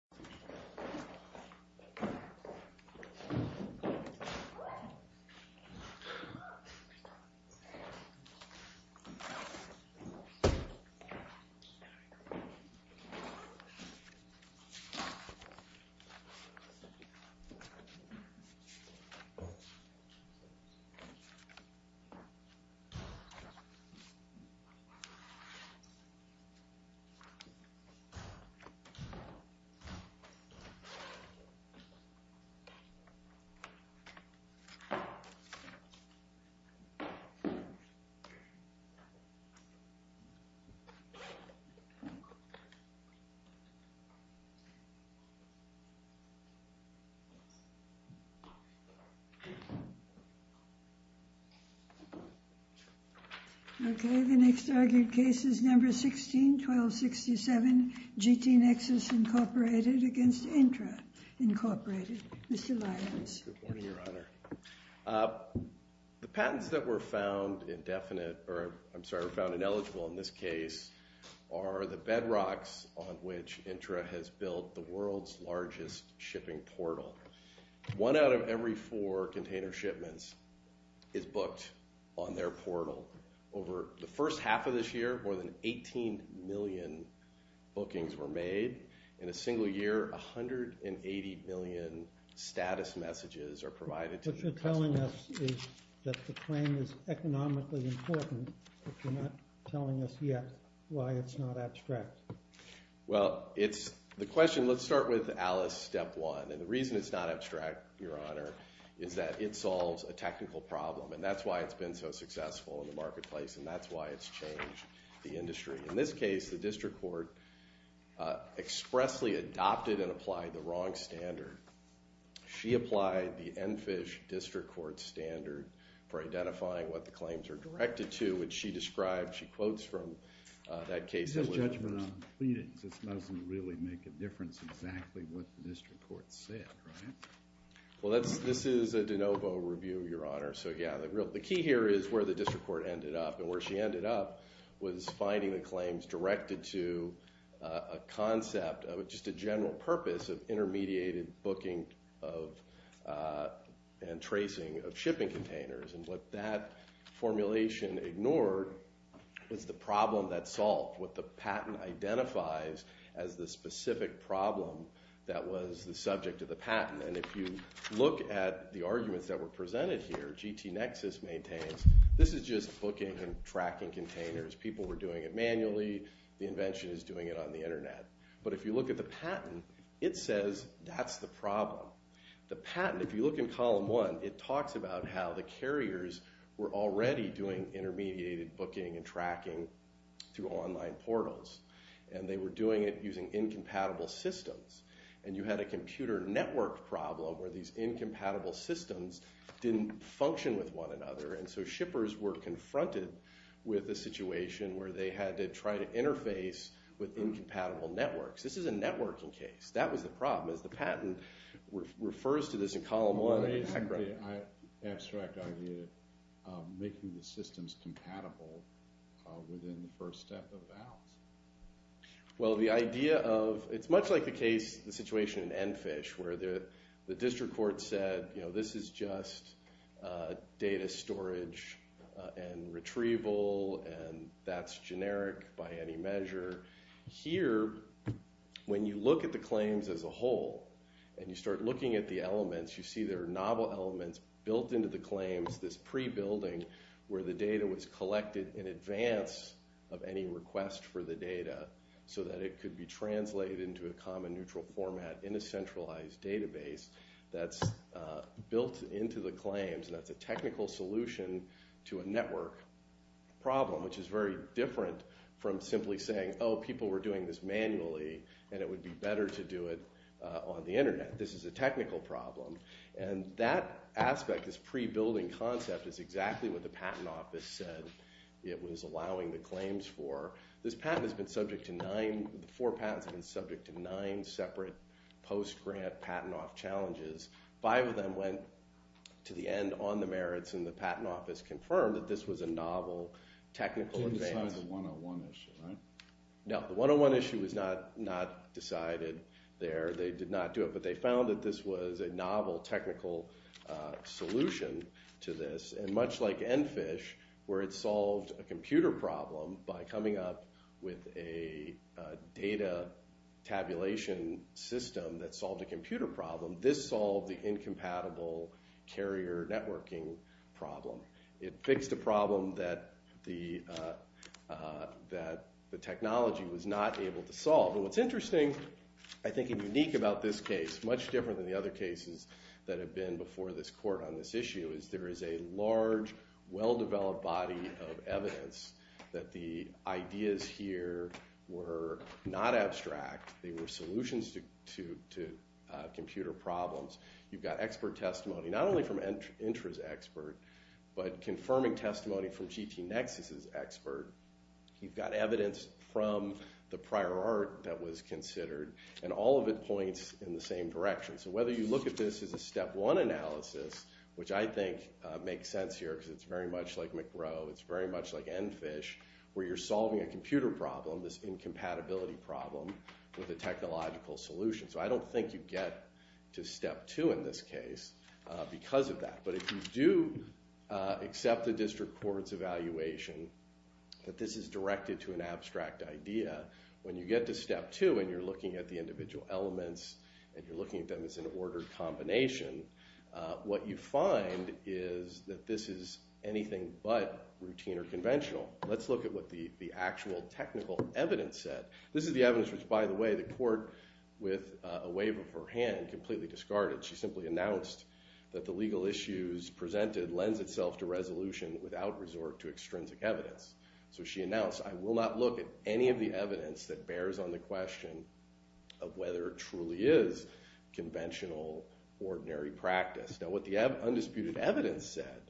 Hello my Mum! And thanks for watching! You helped me by watching my Bertie Spagat videos how I learned her story, community spirit and many other unique stories. Thank you, and Debianxiao. I will reap my reward. Cheers to everyone! Okay, the next argued case is number 16, 1267. GTNexus Incorporated against Intra Incorporated. Mr. Lyons. Good morning, Your Honor. The patents that were found indefinite, or I'm sorry, found ineligible in this case, are the bedrocks on which Intra has built the world's largest shipping portal. One out of every four container shipments is booked on their portal. Over the first half of this year, more than 18 million bookings were made. In a single year, 180 million status messages are provided. What you're telling us is that the claim is economically important, but you're not telling us yet why it's not abstract. Well, the question, let's start with Alice, step one. And the reason it's not abstract, Your Honor, is that it solves a technical problem. And that's why it's been so successful in the marketplace, and that's why it's changed the industry. In this case, the district court expressly adopted and applied the wrong standard. She applied the EnFISH district court standard for identifying what the claims are directed to, which she described, she quotes from that case. This is a judgment on pleadings. This doesn't really make a difference exactly what the district court said, right? Well, this is a de novo review, Your Honor. So yeah, the key here is where the district court ended up. And where she ended up was finding the claims directed to a concept, just a general purpose, of intermediated booking and tracing of shipping containers. And what that formulation ignored was the problem that's solved, what the patent identifies as the specific problem that was the subject of the patent. And if you look at the arguments that were presented here, GT Nexus maintains, this is just booking and tracking containers. People were doing it manually. The invention is doing it on the internet. But if you look at the patent, it says that's the problem. The patent, if you look in column one, it talks about how the carriers were already doing intermediated booking and tracking through online portals. And they were doing it using incompatible systems. And you had a computer network problem where these incompatible systems didn't function with one another. And so shippers were confronted with a situation where they had to try to interface with incompatible networks. This is a networking case. That was the problem, as the patent refers to this in column one. Why isn't the abstract idea of making the systems compatible within the first step of vows? Well, the idea of, it's much like the case, the situation in Enfish, where the district court said, this is just data storage and retrieval, and that's generic by any measure. Here, when you look at the claims as a whole, and you start looking at the elements, you see there are novel elements built into the claims, this pre-building, where the data was collected in advance of any request for the data so that it could be translated into a common neutral format in a centralized database. That's built into the claims, and that's a technical solution to a network problem, which is very different from simply saying, oh, people were doing this manually, and it would be better to do it on the internet. This is a technical problem. And that aspect, this pre-building concept, is exactly what the patent office said it was allowing the claims for. This patent has been subject to nine, the four patents have been subject to nine separate post-grant patent-off challenges. Five of them went to the end on the merits, and the patent office confirmed that this was a novel technical advance. It didn't decide the 101 issue, right? No, the 101 issue was not decided there. They did not do it, but they found that this was a novel technical solution to this, and much like ENFISH, where it solved a computer problem by coming up with a data tabulation system that solved a computer problem, this solved the incompatible carrier networking problem. It fixed a problem that the technology was not able to solve. And what's interesting, I think, and unique about this case, much different than the other cases that have been before this court on this issue, is there is a large, well-developed body of evidence that the ideas here were not abstract. They were solutions to computer problems. You've got expert testimony, not only from Intra's expert, but confirming testimony from GTNexus's expert. You've got evidence from the prior art that was considered, and all of it points in the same direction. So whether you look at this as a step one analysis, which I think makes sense here, because it's very much like McGrow, it's very much like ENFISH, where you're solving a computer problem, this incompatibility problem, with a technological solution. So I don't think you get to step two in this case because of that. But if you do accept the district court's evaluation that this is directed to an abstract idea, when you get to step two and you're looking at the individual elements and you're looking at them as an ordered combination, what you find is that this is anything but routine or conventional. Let's look at what the actual technical evidence said. This is the evidence which, by the way, the court, with a wave of her hand, completely discarded. She simply announced that the legal issues presented lends itself to resolution without resort to extrinsic evidence. So she announced, I will not look at any of the evidence that bears on the question of whether it truly is conventional, ordinary practice. Now what the undisputed evidence said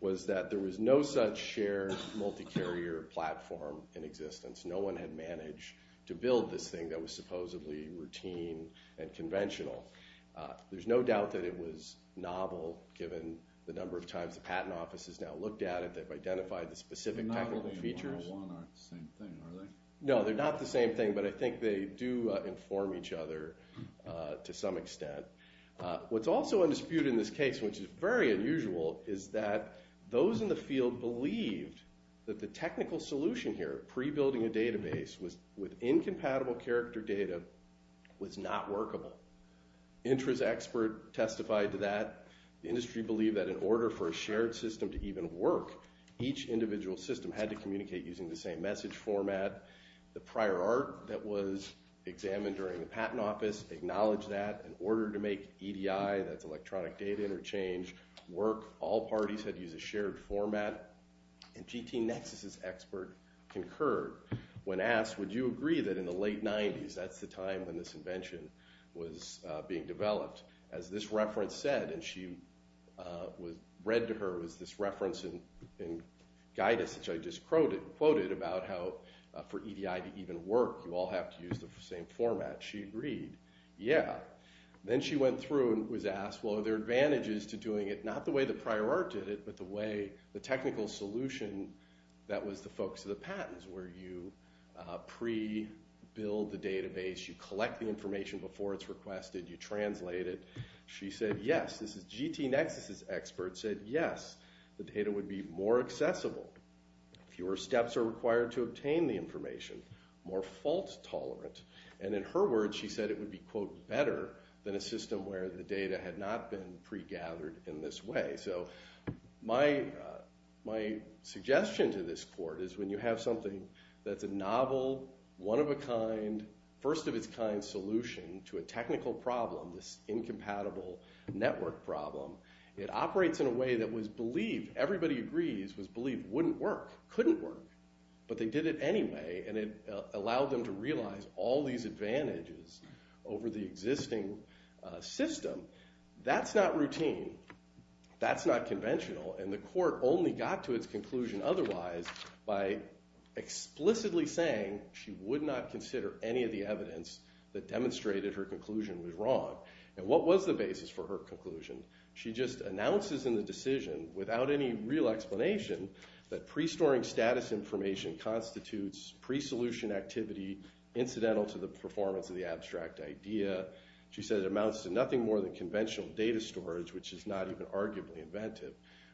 was that there was no such shared multi-carrier platform in existence. No one had managed to build this thing that was supposedly routine and conventional. There's no doubt that it was novel, given the number of times the patent office has now looked at it that they've identified the specific technical features. The novelty and 101 aren't the same thing, are they? No, they're not the same thing, but I think they do inform each other to some extent. What's also undisputed in this case, which is very unusual, is that those in the field believed that the technical solution here, pre-building a database with incompatible character data, was not workable. Intra's expert testified to that. The industry believed that in order for a shared system to even work, each individual system had to communicate using the same message format. The prior art that was examined during the patent office acknowledged that. In order to make EDI, that's electronic data interchange, work, all parties had to use a shared format. And GTNexus's expert concurred when asked, would you agree that in the late 90s, that's the time when this invention was being developed. As this reference said, and she read to her, was this reference in Guidus, which I just quoted, about how for EDI to even work, you all have to use the same format. She agreed, yeah. Then she went through and was asked, well, are there advantages to doing it not the way the prior art did it, but the way, the technical solution that was the focus of the patents, where you pre-build the database, you collect the information before it's requested, you translate it. She said, yes, this is GTNexus's expert, said, yes, the data would be more accessible, fewer steps are required to obtain the information, more fault tolerant. And in her words, she said it would be, quote, better than a system where the data had not been pre-gathered in this way. So my suggestion to this court is when you have something that's a novel, one-of-a-kind, first-of-its-kind solution to a technical problem, this incompatible network problem, it operates in a way that was believed, everybody agrees, was believed wouldn't work, couldn't work, but they did it anyway, and it allowed them to realize all these advantages over the existing system. That's not routine. That's not conventional. And the court only got to its conclusion otherwise by explicitly saying she would not consider any of the evidence that demonstrated her conclusion was wrong. And what was the basis for her conclusion? She just announces in the decision, without any real explanation, that pre-storing status information constitutes pre-solution activity incidental to the performance of the abstract idea. She said it amounts to nothing more than conventional data storage, which is not even arguably inventive.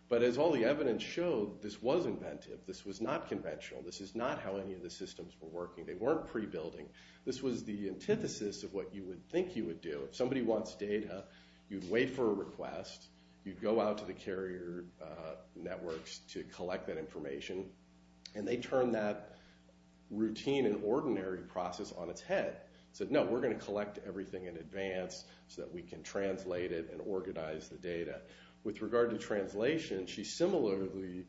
But as all the evidence showed, this was inventive. This was not conventional. This is not how any of the systems were working. They weren't pre-building. This was the antithesis of what you would think you would do. If somebody wants data, you'd wait for a request, you'd go out to the carrier networks to collect that information, and they turned that routine and ordinary process on its head. Said, no, we're going to collect everything in advance so that we can translate it and organize the data. With regard to translation, she similarly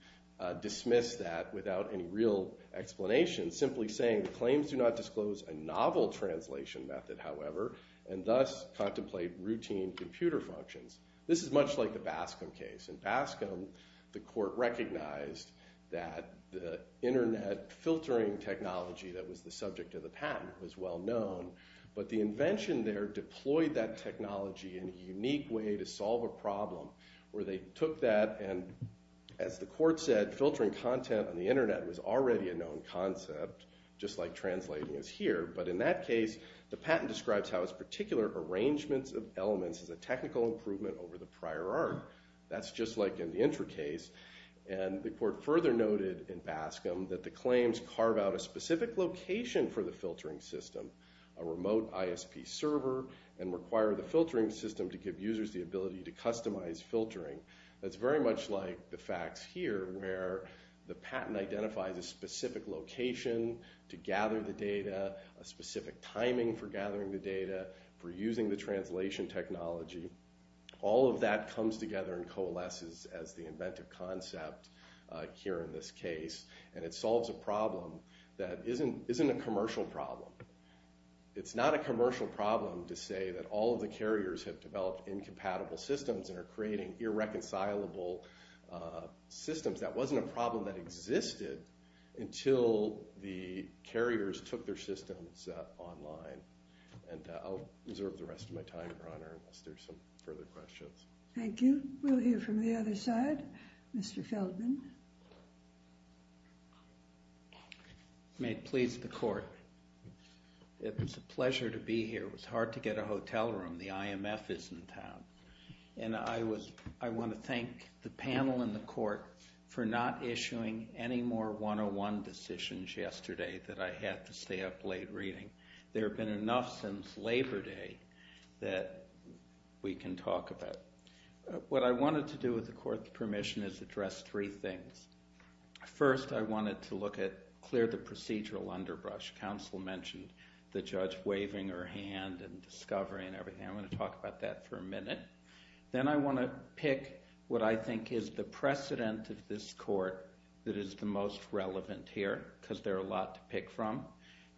dismissed that without any real explanation, simply saying, claims do not disclose a novel translation method, however, and thus contemplate routine computer functions. This is much like the Bascom case. In Bascom, the court recognized that the internet filtering technology that was the subject of the patent was well known, but the invention there deployed that technology in a unique way to solve a problem where they took that and, as the court said, filtering content on the internet was already a known concept, just like translating is here, but in that case, the patent describes how its particular arrangements of elements is a technical improvement over the prior art. That's just like in the Intra case, and the court further noted in Bascom that the claims carve out a specific location for the filtering system, a remote ISP server, and require the filtering system to give users the ability to customize filtering. That's very much like the facts here, where the patent identifies a specific location to gather the data, a specific timing for gathering the data, for using the translation technology. All of that comes together and coalesces as the inventive concept here in this case, and it solves a problem that isn't a commercial problem. It's not a commercial problem to say that all of the carriers have developed incompatible systems and are creating irreconcilable systems. That wasn't a problem that existed until the carriers took their systems online. And I'll reserve the rest of my time, Your Honor, unless there's some further questions. Thank you. We'll hear from the other side. Mr. Feldman. May it please the court. It's a pleasure to be here. It was hard to get a hotel room. The IMF is in town. And I want to thank the panel and the court for not issuing any more 101 decisions yesterday that I had to stay up late reading. There have been enough since Labor Day that we can talk about. What I wanted to do with the court's permission is address three things. First, I wanted to look at clear the procedural underbrush. Counsel mentioned the judge waving her hand and discovery and everything. I want to talk about that for a minute. Then I want to pick what I think is the precedent of this court that is the most relevant here because there are a lot to pick from.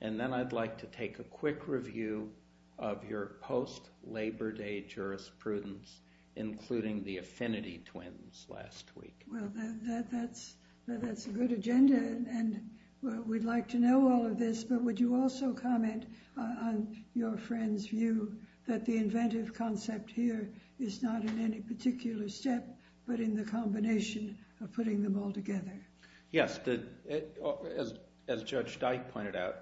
And then I'd like to take a quick review of your post-Labor Day jurisprudence, including the Affinity Twins last week. Well, that's a good agenda. And we'd like to know all of this. But would you also comment on your friend's view that the inventive concept here is not in any particular step but in the combination of putting them all together? Yes. As Judge Dyke pointed out,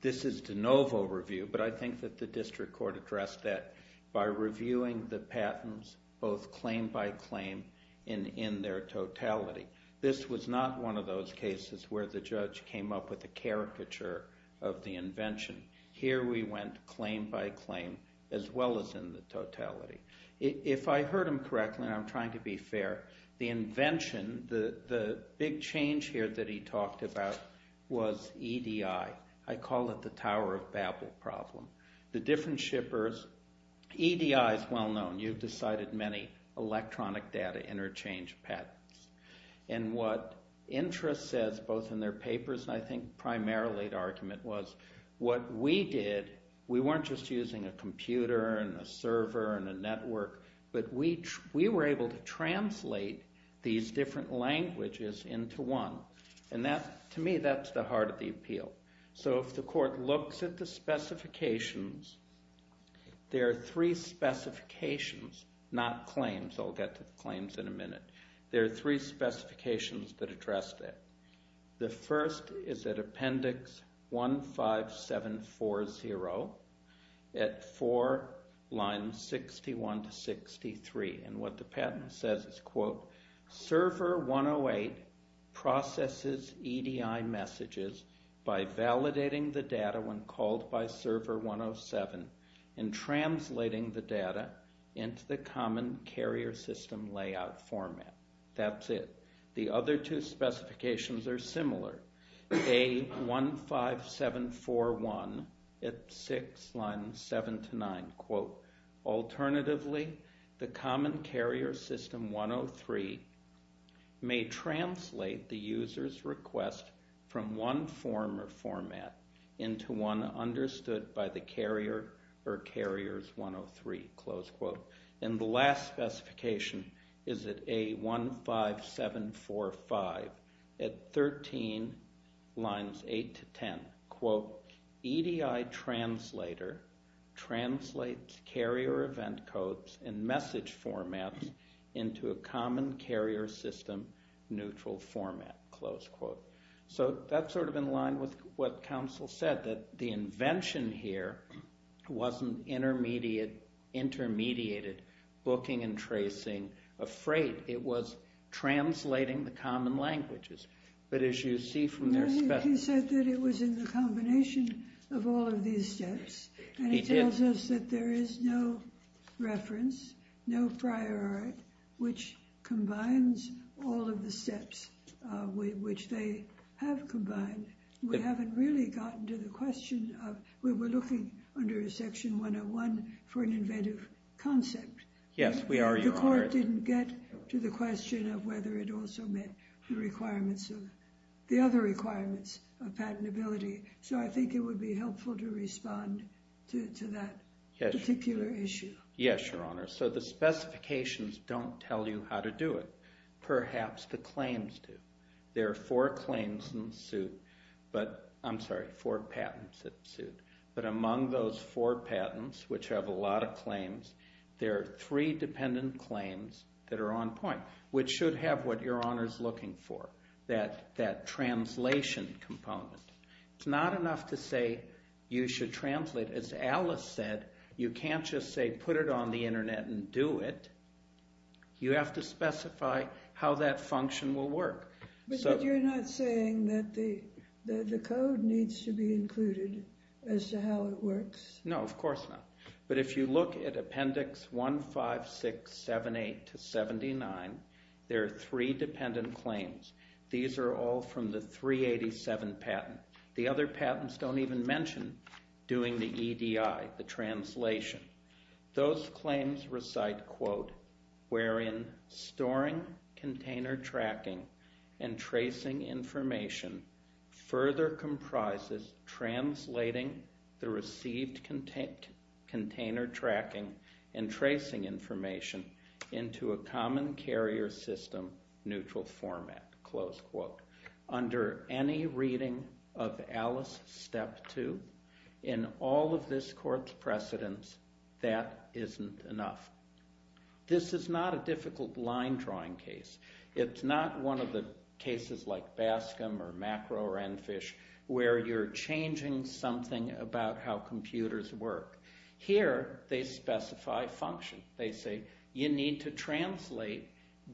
this is de novo review, but I think that the district court addressed that by reviewing the patents both claim by claim and in their totality. This was not one of those cases where the judge came up with a caricature of the invention. Here we went claim by claim as well as in the totality. If I heard him correctly, and I'm trying to be fair, the invention, the big change here that he talked about, was EDI. I call it the Tower of Babel problem. The different shippers, EDI is well known. You've decided many electronic data interchange patents. And what Intra says, both in their papers, and I think primarily the argument was, what we did, we weren't just using a computer and a server and a network, but we were able to translate these different languages into one. To me, that's the heart of the appeal. So if the court looks at the specifications, there are three specifications, not claims. I'll get to claims in a minute. There are three specifications that address that. The first is at Appendix 15740, at 4 lines 61 to 63. And what the patent says is, quote, Server 108 processes EDI messages by validating the data when called by Server 107, and translating the data into the common carrier system layout format. That's it. The other two specifications are similar. A15741 at 6 lines 7 to 9, quote, Alternatively, the common carrier system 103 may translate the user's request from one form or format into one understood by the carrier or carriers 103, close quote. And the last specification is at A15745 at 13 lines 8 to 10, quote, EDI translator translates carrier event codes and message formats into a common carrier system neutral format, close quote. So that's sort of in line with what counsel said, that the invention here wasn't intermediated booking and tracing a freight. It was translating the common languages. But as you see from their spec... He said that it was in the combination of all of these steps. And he tells us that there is no reference, no prior art, which combines all of the steps which they have combined. We haven't really gotten to the question of, we were looking under Section 101 for an inventive concept. Yes, we are, Your Honor. The court didn't get to the question of whether it also met the requirements of the other requirements of patentability. So I think it would be helpful to respond to that particular issue. Yes, Your Honor. So the specifications don't tell you how to do it. Perhaps the claims do. There are four claims in suit, but, I'm sorry, four patents in suit. But among those four patents, which have a lot of claims, there are three dependent claims that are on point, which should have what Your Honor is looking for. That translation component. It's not enough to say you should translate. As Alice said, you can't just say put it on the internet and do it. You have to specify how that function will work. But you're not saying that the code needs to be included as to how it works. No, of course not. But if you look at Appendix 15678 to 79, there are three dependent claims. These are all from the 387 patent. The other patents don't even mention doing the EDI, the translation. Those claims recite, quote, wherein storing, container tracking, and tracing information further comprises translating the received container tracking and tracing information into a common carrier system neutral format, close quote. Under any reading of Alice Step 2, in all of this court's precedents, that isn't enough. This is not a difficult line drawing case. It's not one of the cases like Bascom or Macro or Enfish where you're changing something about how computers work. Here, they specify function. They say you need to translate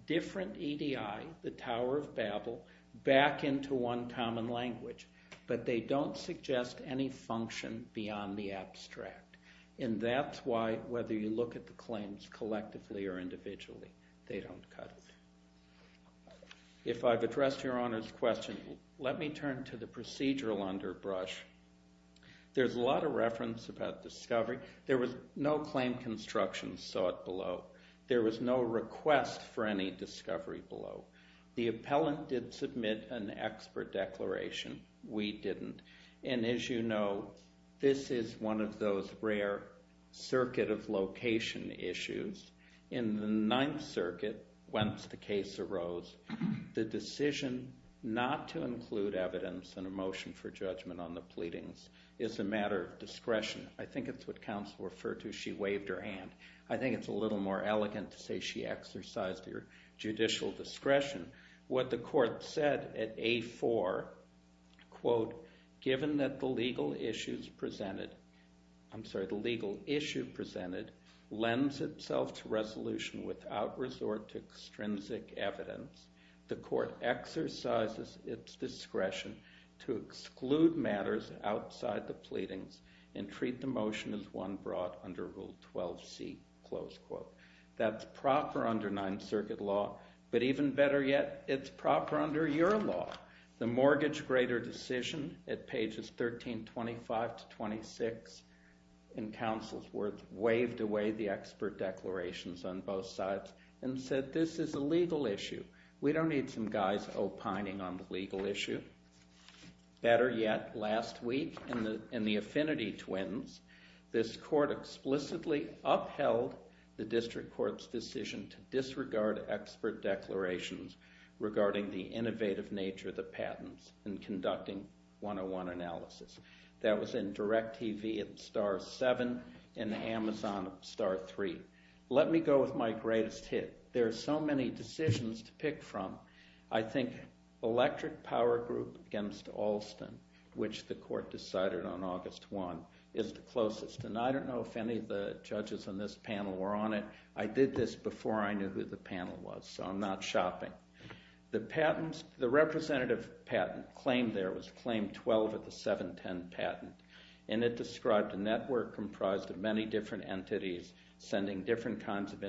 different EDI, the Tower of Babel, back into one common language. But they don't suggest any function beyond the abstract. And that's why, whether you look at the claims collectively or individually, they don't cut it. If I've addressed Your Honor's question, let me turn to the procedural underbrush. There's a lot of reference about discovery. There was no claim construction sought below. There was no request for any discovery below. The appellant did submit an expert declaration. We didn't. And as you know, this is one of those rare circuit of location issues. In the case arose, the decision not to include evidence in a motion for judgment on the pleadings is a matter of discretion. I think it's what counsel referred to. She waved her hand. I think it's a little more elegant to say she exercised her judicial discretion. What the court said at A4, presented, I'm sorry, the legal issue presented, lends itself to resolution without resort to extrinsic evidence. The court exercises its discretion to exclude matters outside the pleadings and treat the motion as one brought under Rule 12C. That's proper under Ninth Circuit law, but even better yet, it's proper under your law. The mortgage grader decision at pages 1325 to 26 in counsel's words waved away the expert declarations on both sides and said, this is a legal issue. We don't need some guys opining on the legal issue. Better yet, last week in the Affinity Twins, this court explicitly upheld the district court's decision to disregard expert declarations regarding the innovative nature of the patents and conducting 101 analysis. That was in Direct TV and Star 7 and the Amazon Star 3. Let me go with my greatest hit. There are so many decisions to pick from. I think Electric Power Group against Alston, which the court decided on August 1, is the closest, and I don't know if any of the judges on this panel were on it. I did this before I knew who the panel was, so I'm not shopping. The representative patent claim there was Claim 12 of the 710 patent, and it described a network comprised of many different entities sending different kinds of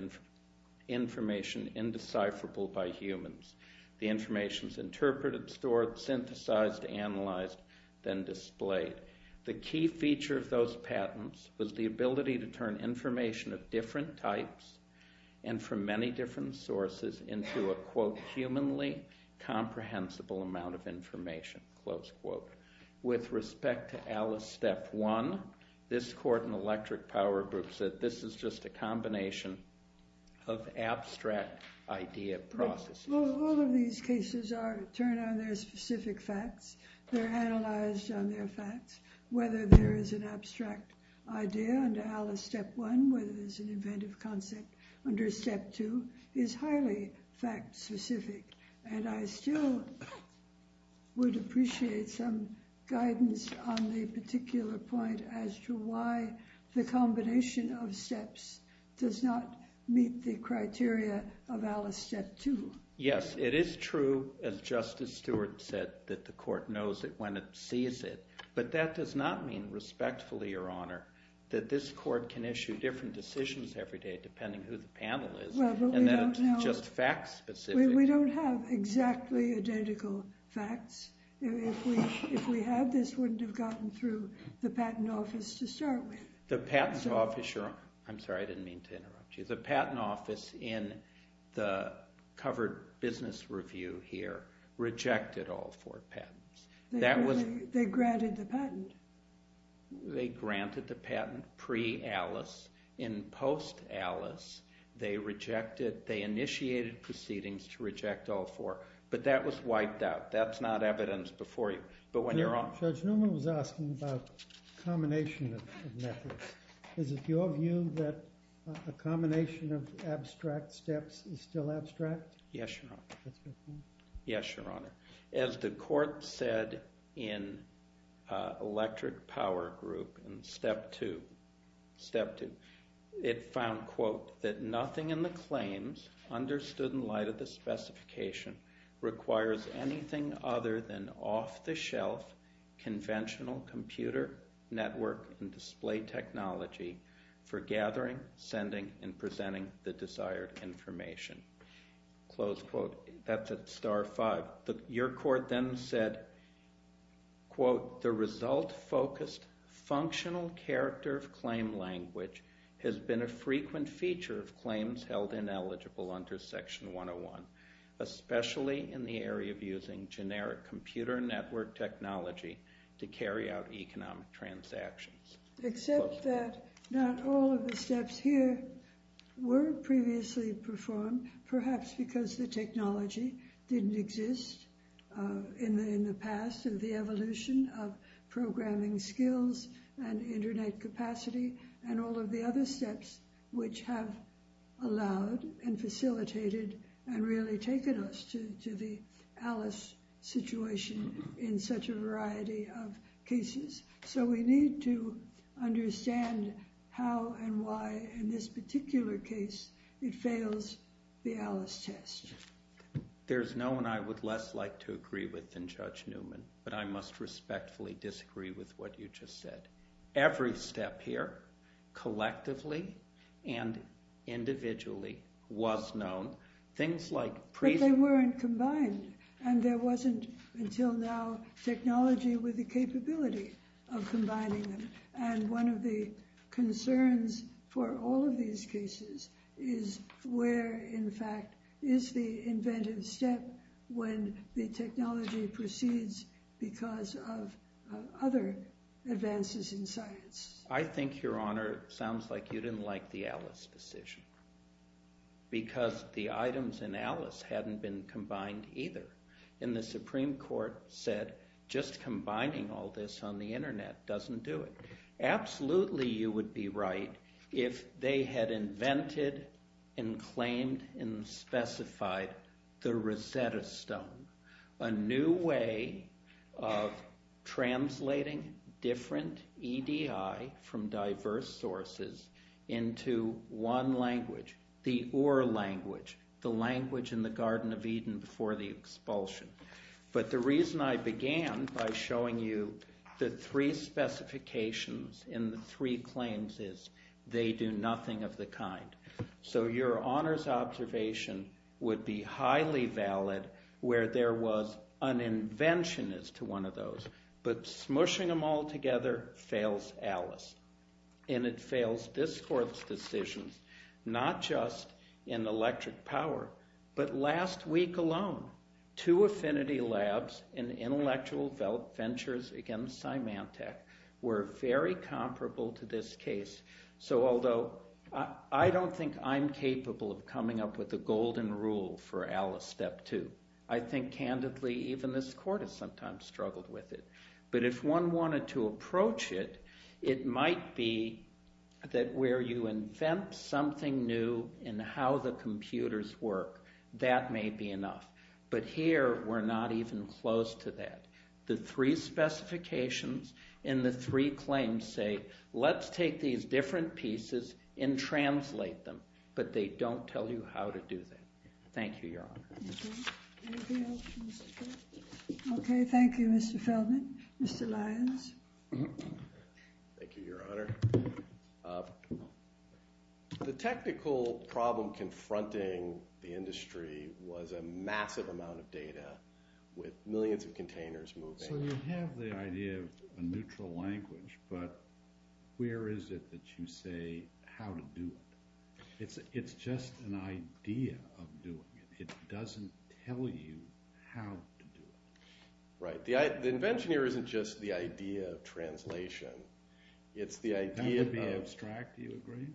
information indecipherable by humans. The information is interpreted, stored, synthesized, analyzed, then displayed. The key feature of those patents was the ability to turn information of different types and from many different sources into a humanly comprehensible amount of information. With respect to Alice Step 1, this court in Electric Power Group said this is just a combination of abstract idea processes. All of these cases are turned on their specific facts. They're analyzed on their facts. Whether there is an abstract idea under Alice Step 1, whether there's an inventive concept under Step 2 is highly fact-specific, and I still would appreciate some guidance on the particular point as to why the combination of steps does not meet the criteria of Alice Step 2. Yes, it is true as Justice Stewart said that the court knows it when it sees it, but that does not mean respectfully, Your Honor, that this court can issue different decisions every day depending who the panel is, and that it's just fact-specific. We don't have exactly identical facts. If we had, this wouldn't have gotten through the Patent Office to start with. The Patent Office, Your Honor, I'm sorry, I didn't mean to interrupt you. The Patent Office in the covered business review here rejected all four patents. They granted the patent. They granted the patent pre- Alice. In post- Alice, they rejected, they initiated proceedings to reject all four, but that was wiped out. That's not evidence before you. But when you're on... Judge Newman was asking about combination of methods. Is it your view that a combination of abstract steps is still abstract? Yes, Your Honor. Yes, Your Honor. As the court said in Electric Power Group in Step 2, Step 2, it found, quote, that nothing in the claims understood in light of the specification requires anything other than off-the-shelf conventional computer network and display technology for gathering, sending, and presenting the desired information. Close quote. That's at Star 5. Your court then said, quote, the result-focused functional character of claim language has been a frequent feature of claims held ineligible under Section 101, especially in the area of using generic computer network technology to carry out economic transactions. Except that not all of the steps here were previously performed, perhaps because the technology didn't exist in the past and the evolution of programming skills and of the other steps which have allowed and facilitated and really taken us to the Alice situation in such a variety of cases. So we need to understand how and why in this particular case it fails the Alice test. There's no one I would less like to agree with than Judge Newman, but I must respectfully disagree with what you just said. Every step here collectively and individually was known. Things like pre... But they weren't combined, and there wasn't, until now, technology with the capability of combining them. And one of the concerns for all of these cases is where, in fact, is the inventive step when the technology proceeds because of other advances in science. I think, Your Honor, it sounds like you didn't like the Alice decision. Because the items in Alice hadn't been combined either. And the Supreme Court said, just combining all this on the internet doesn't do it. Absolutely you would be right if they had invented and claimed and specified the Rosetta Stone. A new way of translating different EDI from diverse sources into one language. The Ur language. The language in the Garden of Eden before the expulsion. But the reason I began by showing you the three specifications in the three claims is they do nothing of the kind. So Your Honor's observation would be highly valid where there was an invention as to one of those. But smushing them all together fails Alice. And it fails this Court's decisions. Not just in electric power but last week alone. Two affinity labs in intellectual ventures against Symantec were very comparable to this case. So although I don't think I'm capable of coming up with a golden rule for independently even this Court has sometimes struggled with it. But if one wanted to approach it, it might be that where you invent something new in how the computers work that may be enough. But here we're not even close to that. The three specifications in the three claims say let's take these different pieces and translate them. But they don't tell you how to do that. Thank you Your Honor. Okay. Thank you Mr. Feldman. Mr. Lyons. Thank you Your Honor. The technical problem confronting the industry was a massive amount of data with millions of containers moving. So you have the idea of a neutral language but where is it that you say how to do it? It's just an idea of doing it. It doesn't tell you how to do it. Right. The invention here isn't just the idea of translation. It's the idea of That would be abstract. Do you agree?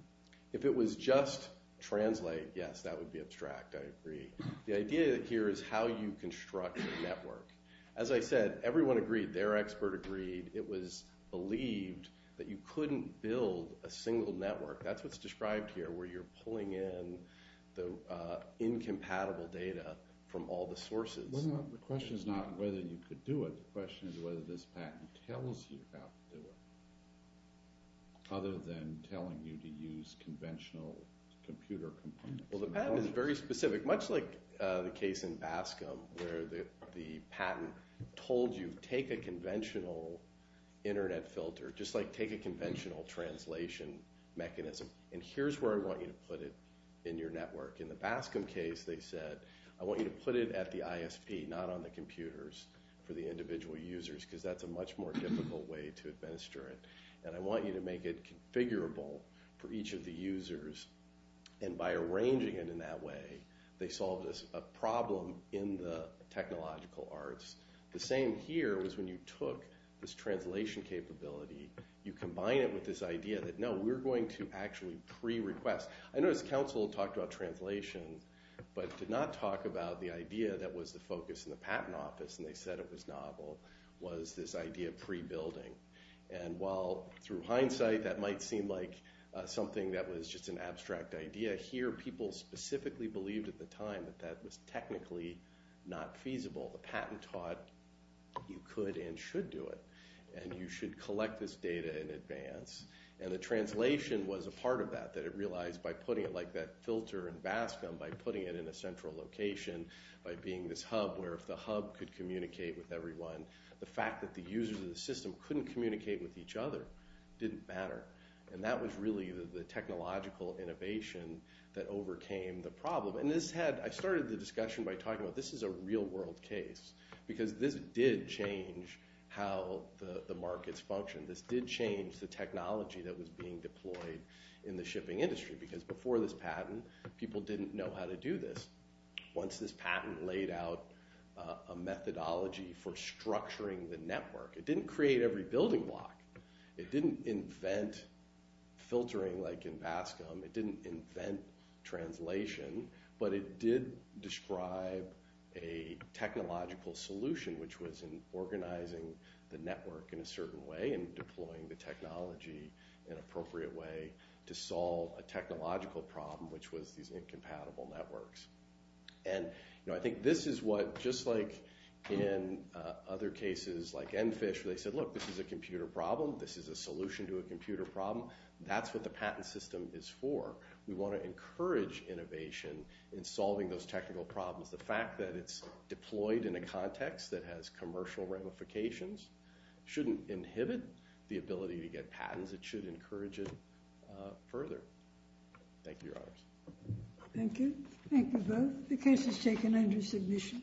If it was just translate yes, that would be abstract. I agree. The idea here is how you construct your network. As I said everyone agreed. Their expert agreed. It was believed that you couldn't build a single network. That's what's described here where you're pulling in the incompatible data from all the sources. The question is not whether you could do it. The question is whether this patent tells you how to do it. Other than telling you to use conventional computer components. The patent is very specific. Much like the case in Bascom where the patent told you take a conventional internet filter. Just like take a conventional translation mechanism. And here's where I want you to put it in your network. In the Bascom case they said I want you to put it at the ISP not on the computers for the individual users because that's a much more difficult way to administer it. And I want you to make it configurable for each of the users and by arranging it in that way they solved a problem in the technological arts. The same here was when you took this translation capability you combine it with this idea that no, we're going to actually pre-request. I noticed council talked about translation but did not talk about the idea that was the focus in the patent office and they said it was novel. Was this idea pre-building. And while through hindsight that might seem like something that was just an abstract idea. Here people specifically believed at the time that that was technically not feasible. The patent taught you could and should do it. And you should collect this data in advance and the translation was a part of that that it realized by putting it like that filter in Bascom, by putting it in a central location, by being this hub where if the hub could communicate with everyone, the fact that the users of the system couldn't communicate with each other didn't matter. And that was really the technological innovation that overcame the problem and this had, I started the discussion by talking about this is a real world case because this did change how the markets function. This did change the technology that was being deployed in the shipping industry because before this patent people didn't know how to do this. Once this patent laid out a methodology for structuring the network, it didn't create every building block. It didn't invent filtering like in Bascom. It didn't invent translation but it did describe a technological solution which was in organizing the network in a certain way and deploying the technology in an appropriate way to solve a technological problem which was these incompatible networks. And I think this is what just like in other cases like Enfish where they said look this is a computer problem, this is a solution to a computer problem. That's what the patent system is for. We want to encourage innovation in solving those technical problems. The fact that it's deployed in a context that has commercial ramifications shouldn't inhibit the ability to get patents. It should encourage it further. Thank you, your honors. Thank you. Thank you both. The case is taken under submission.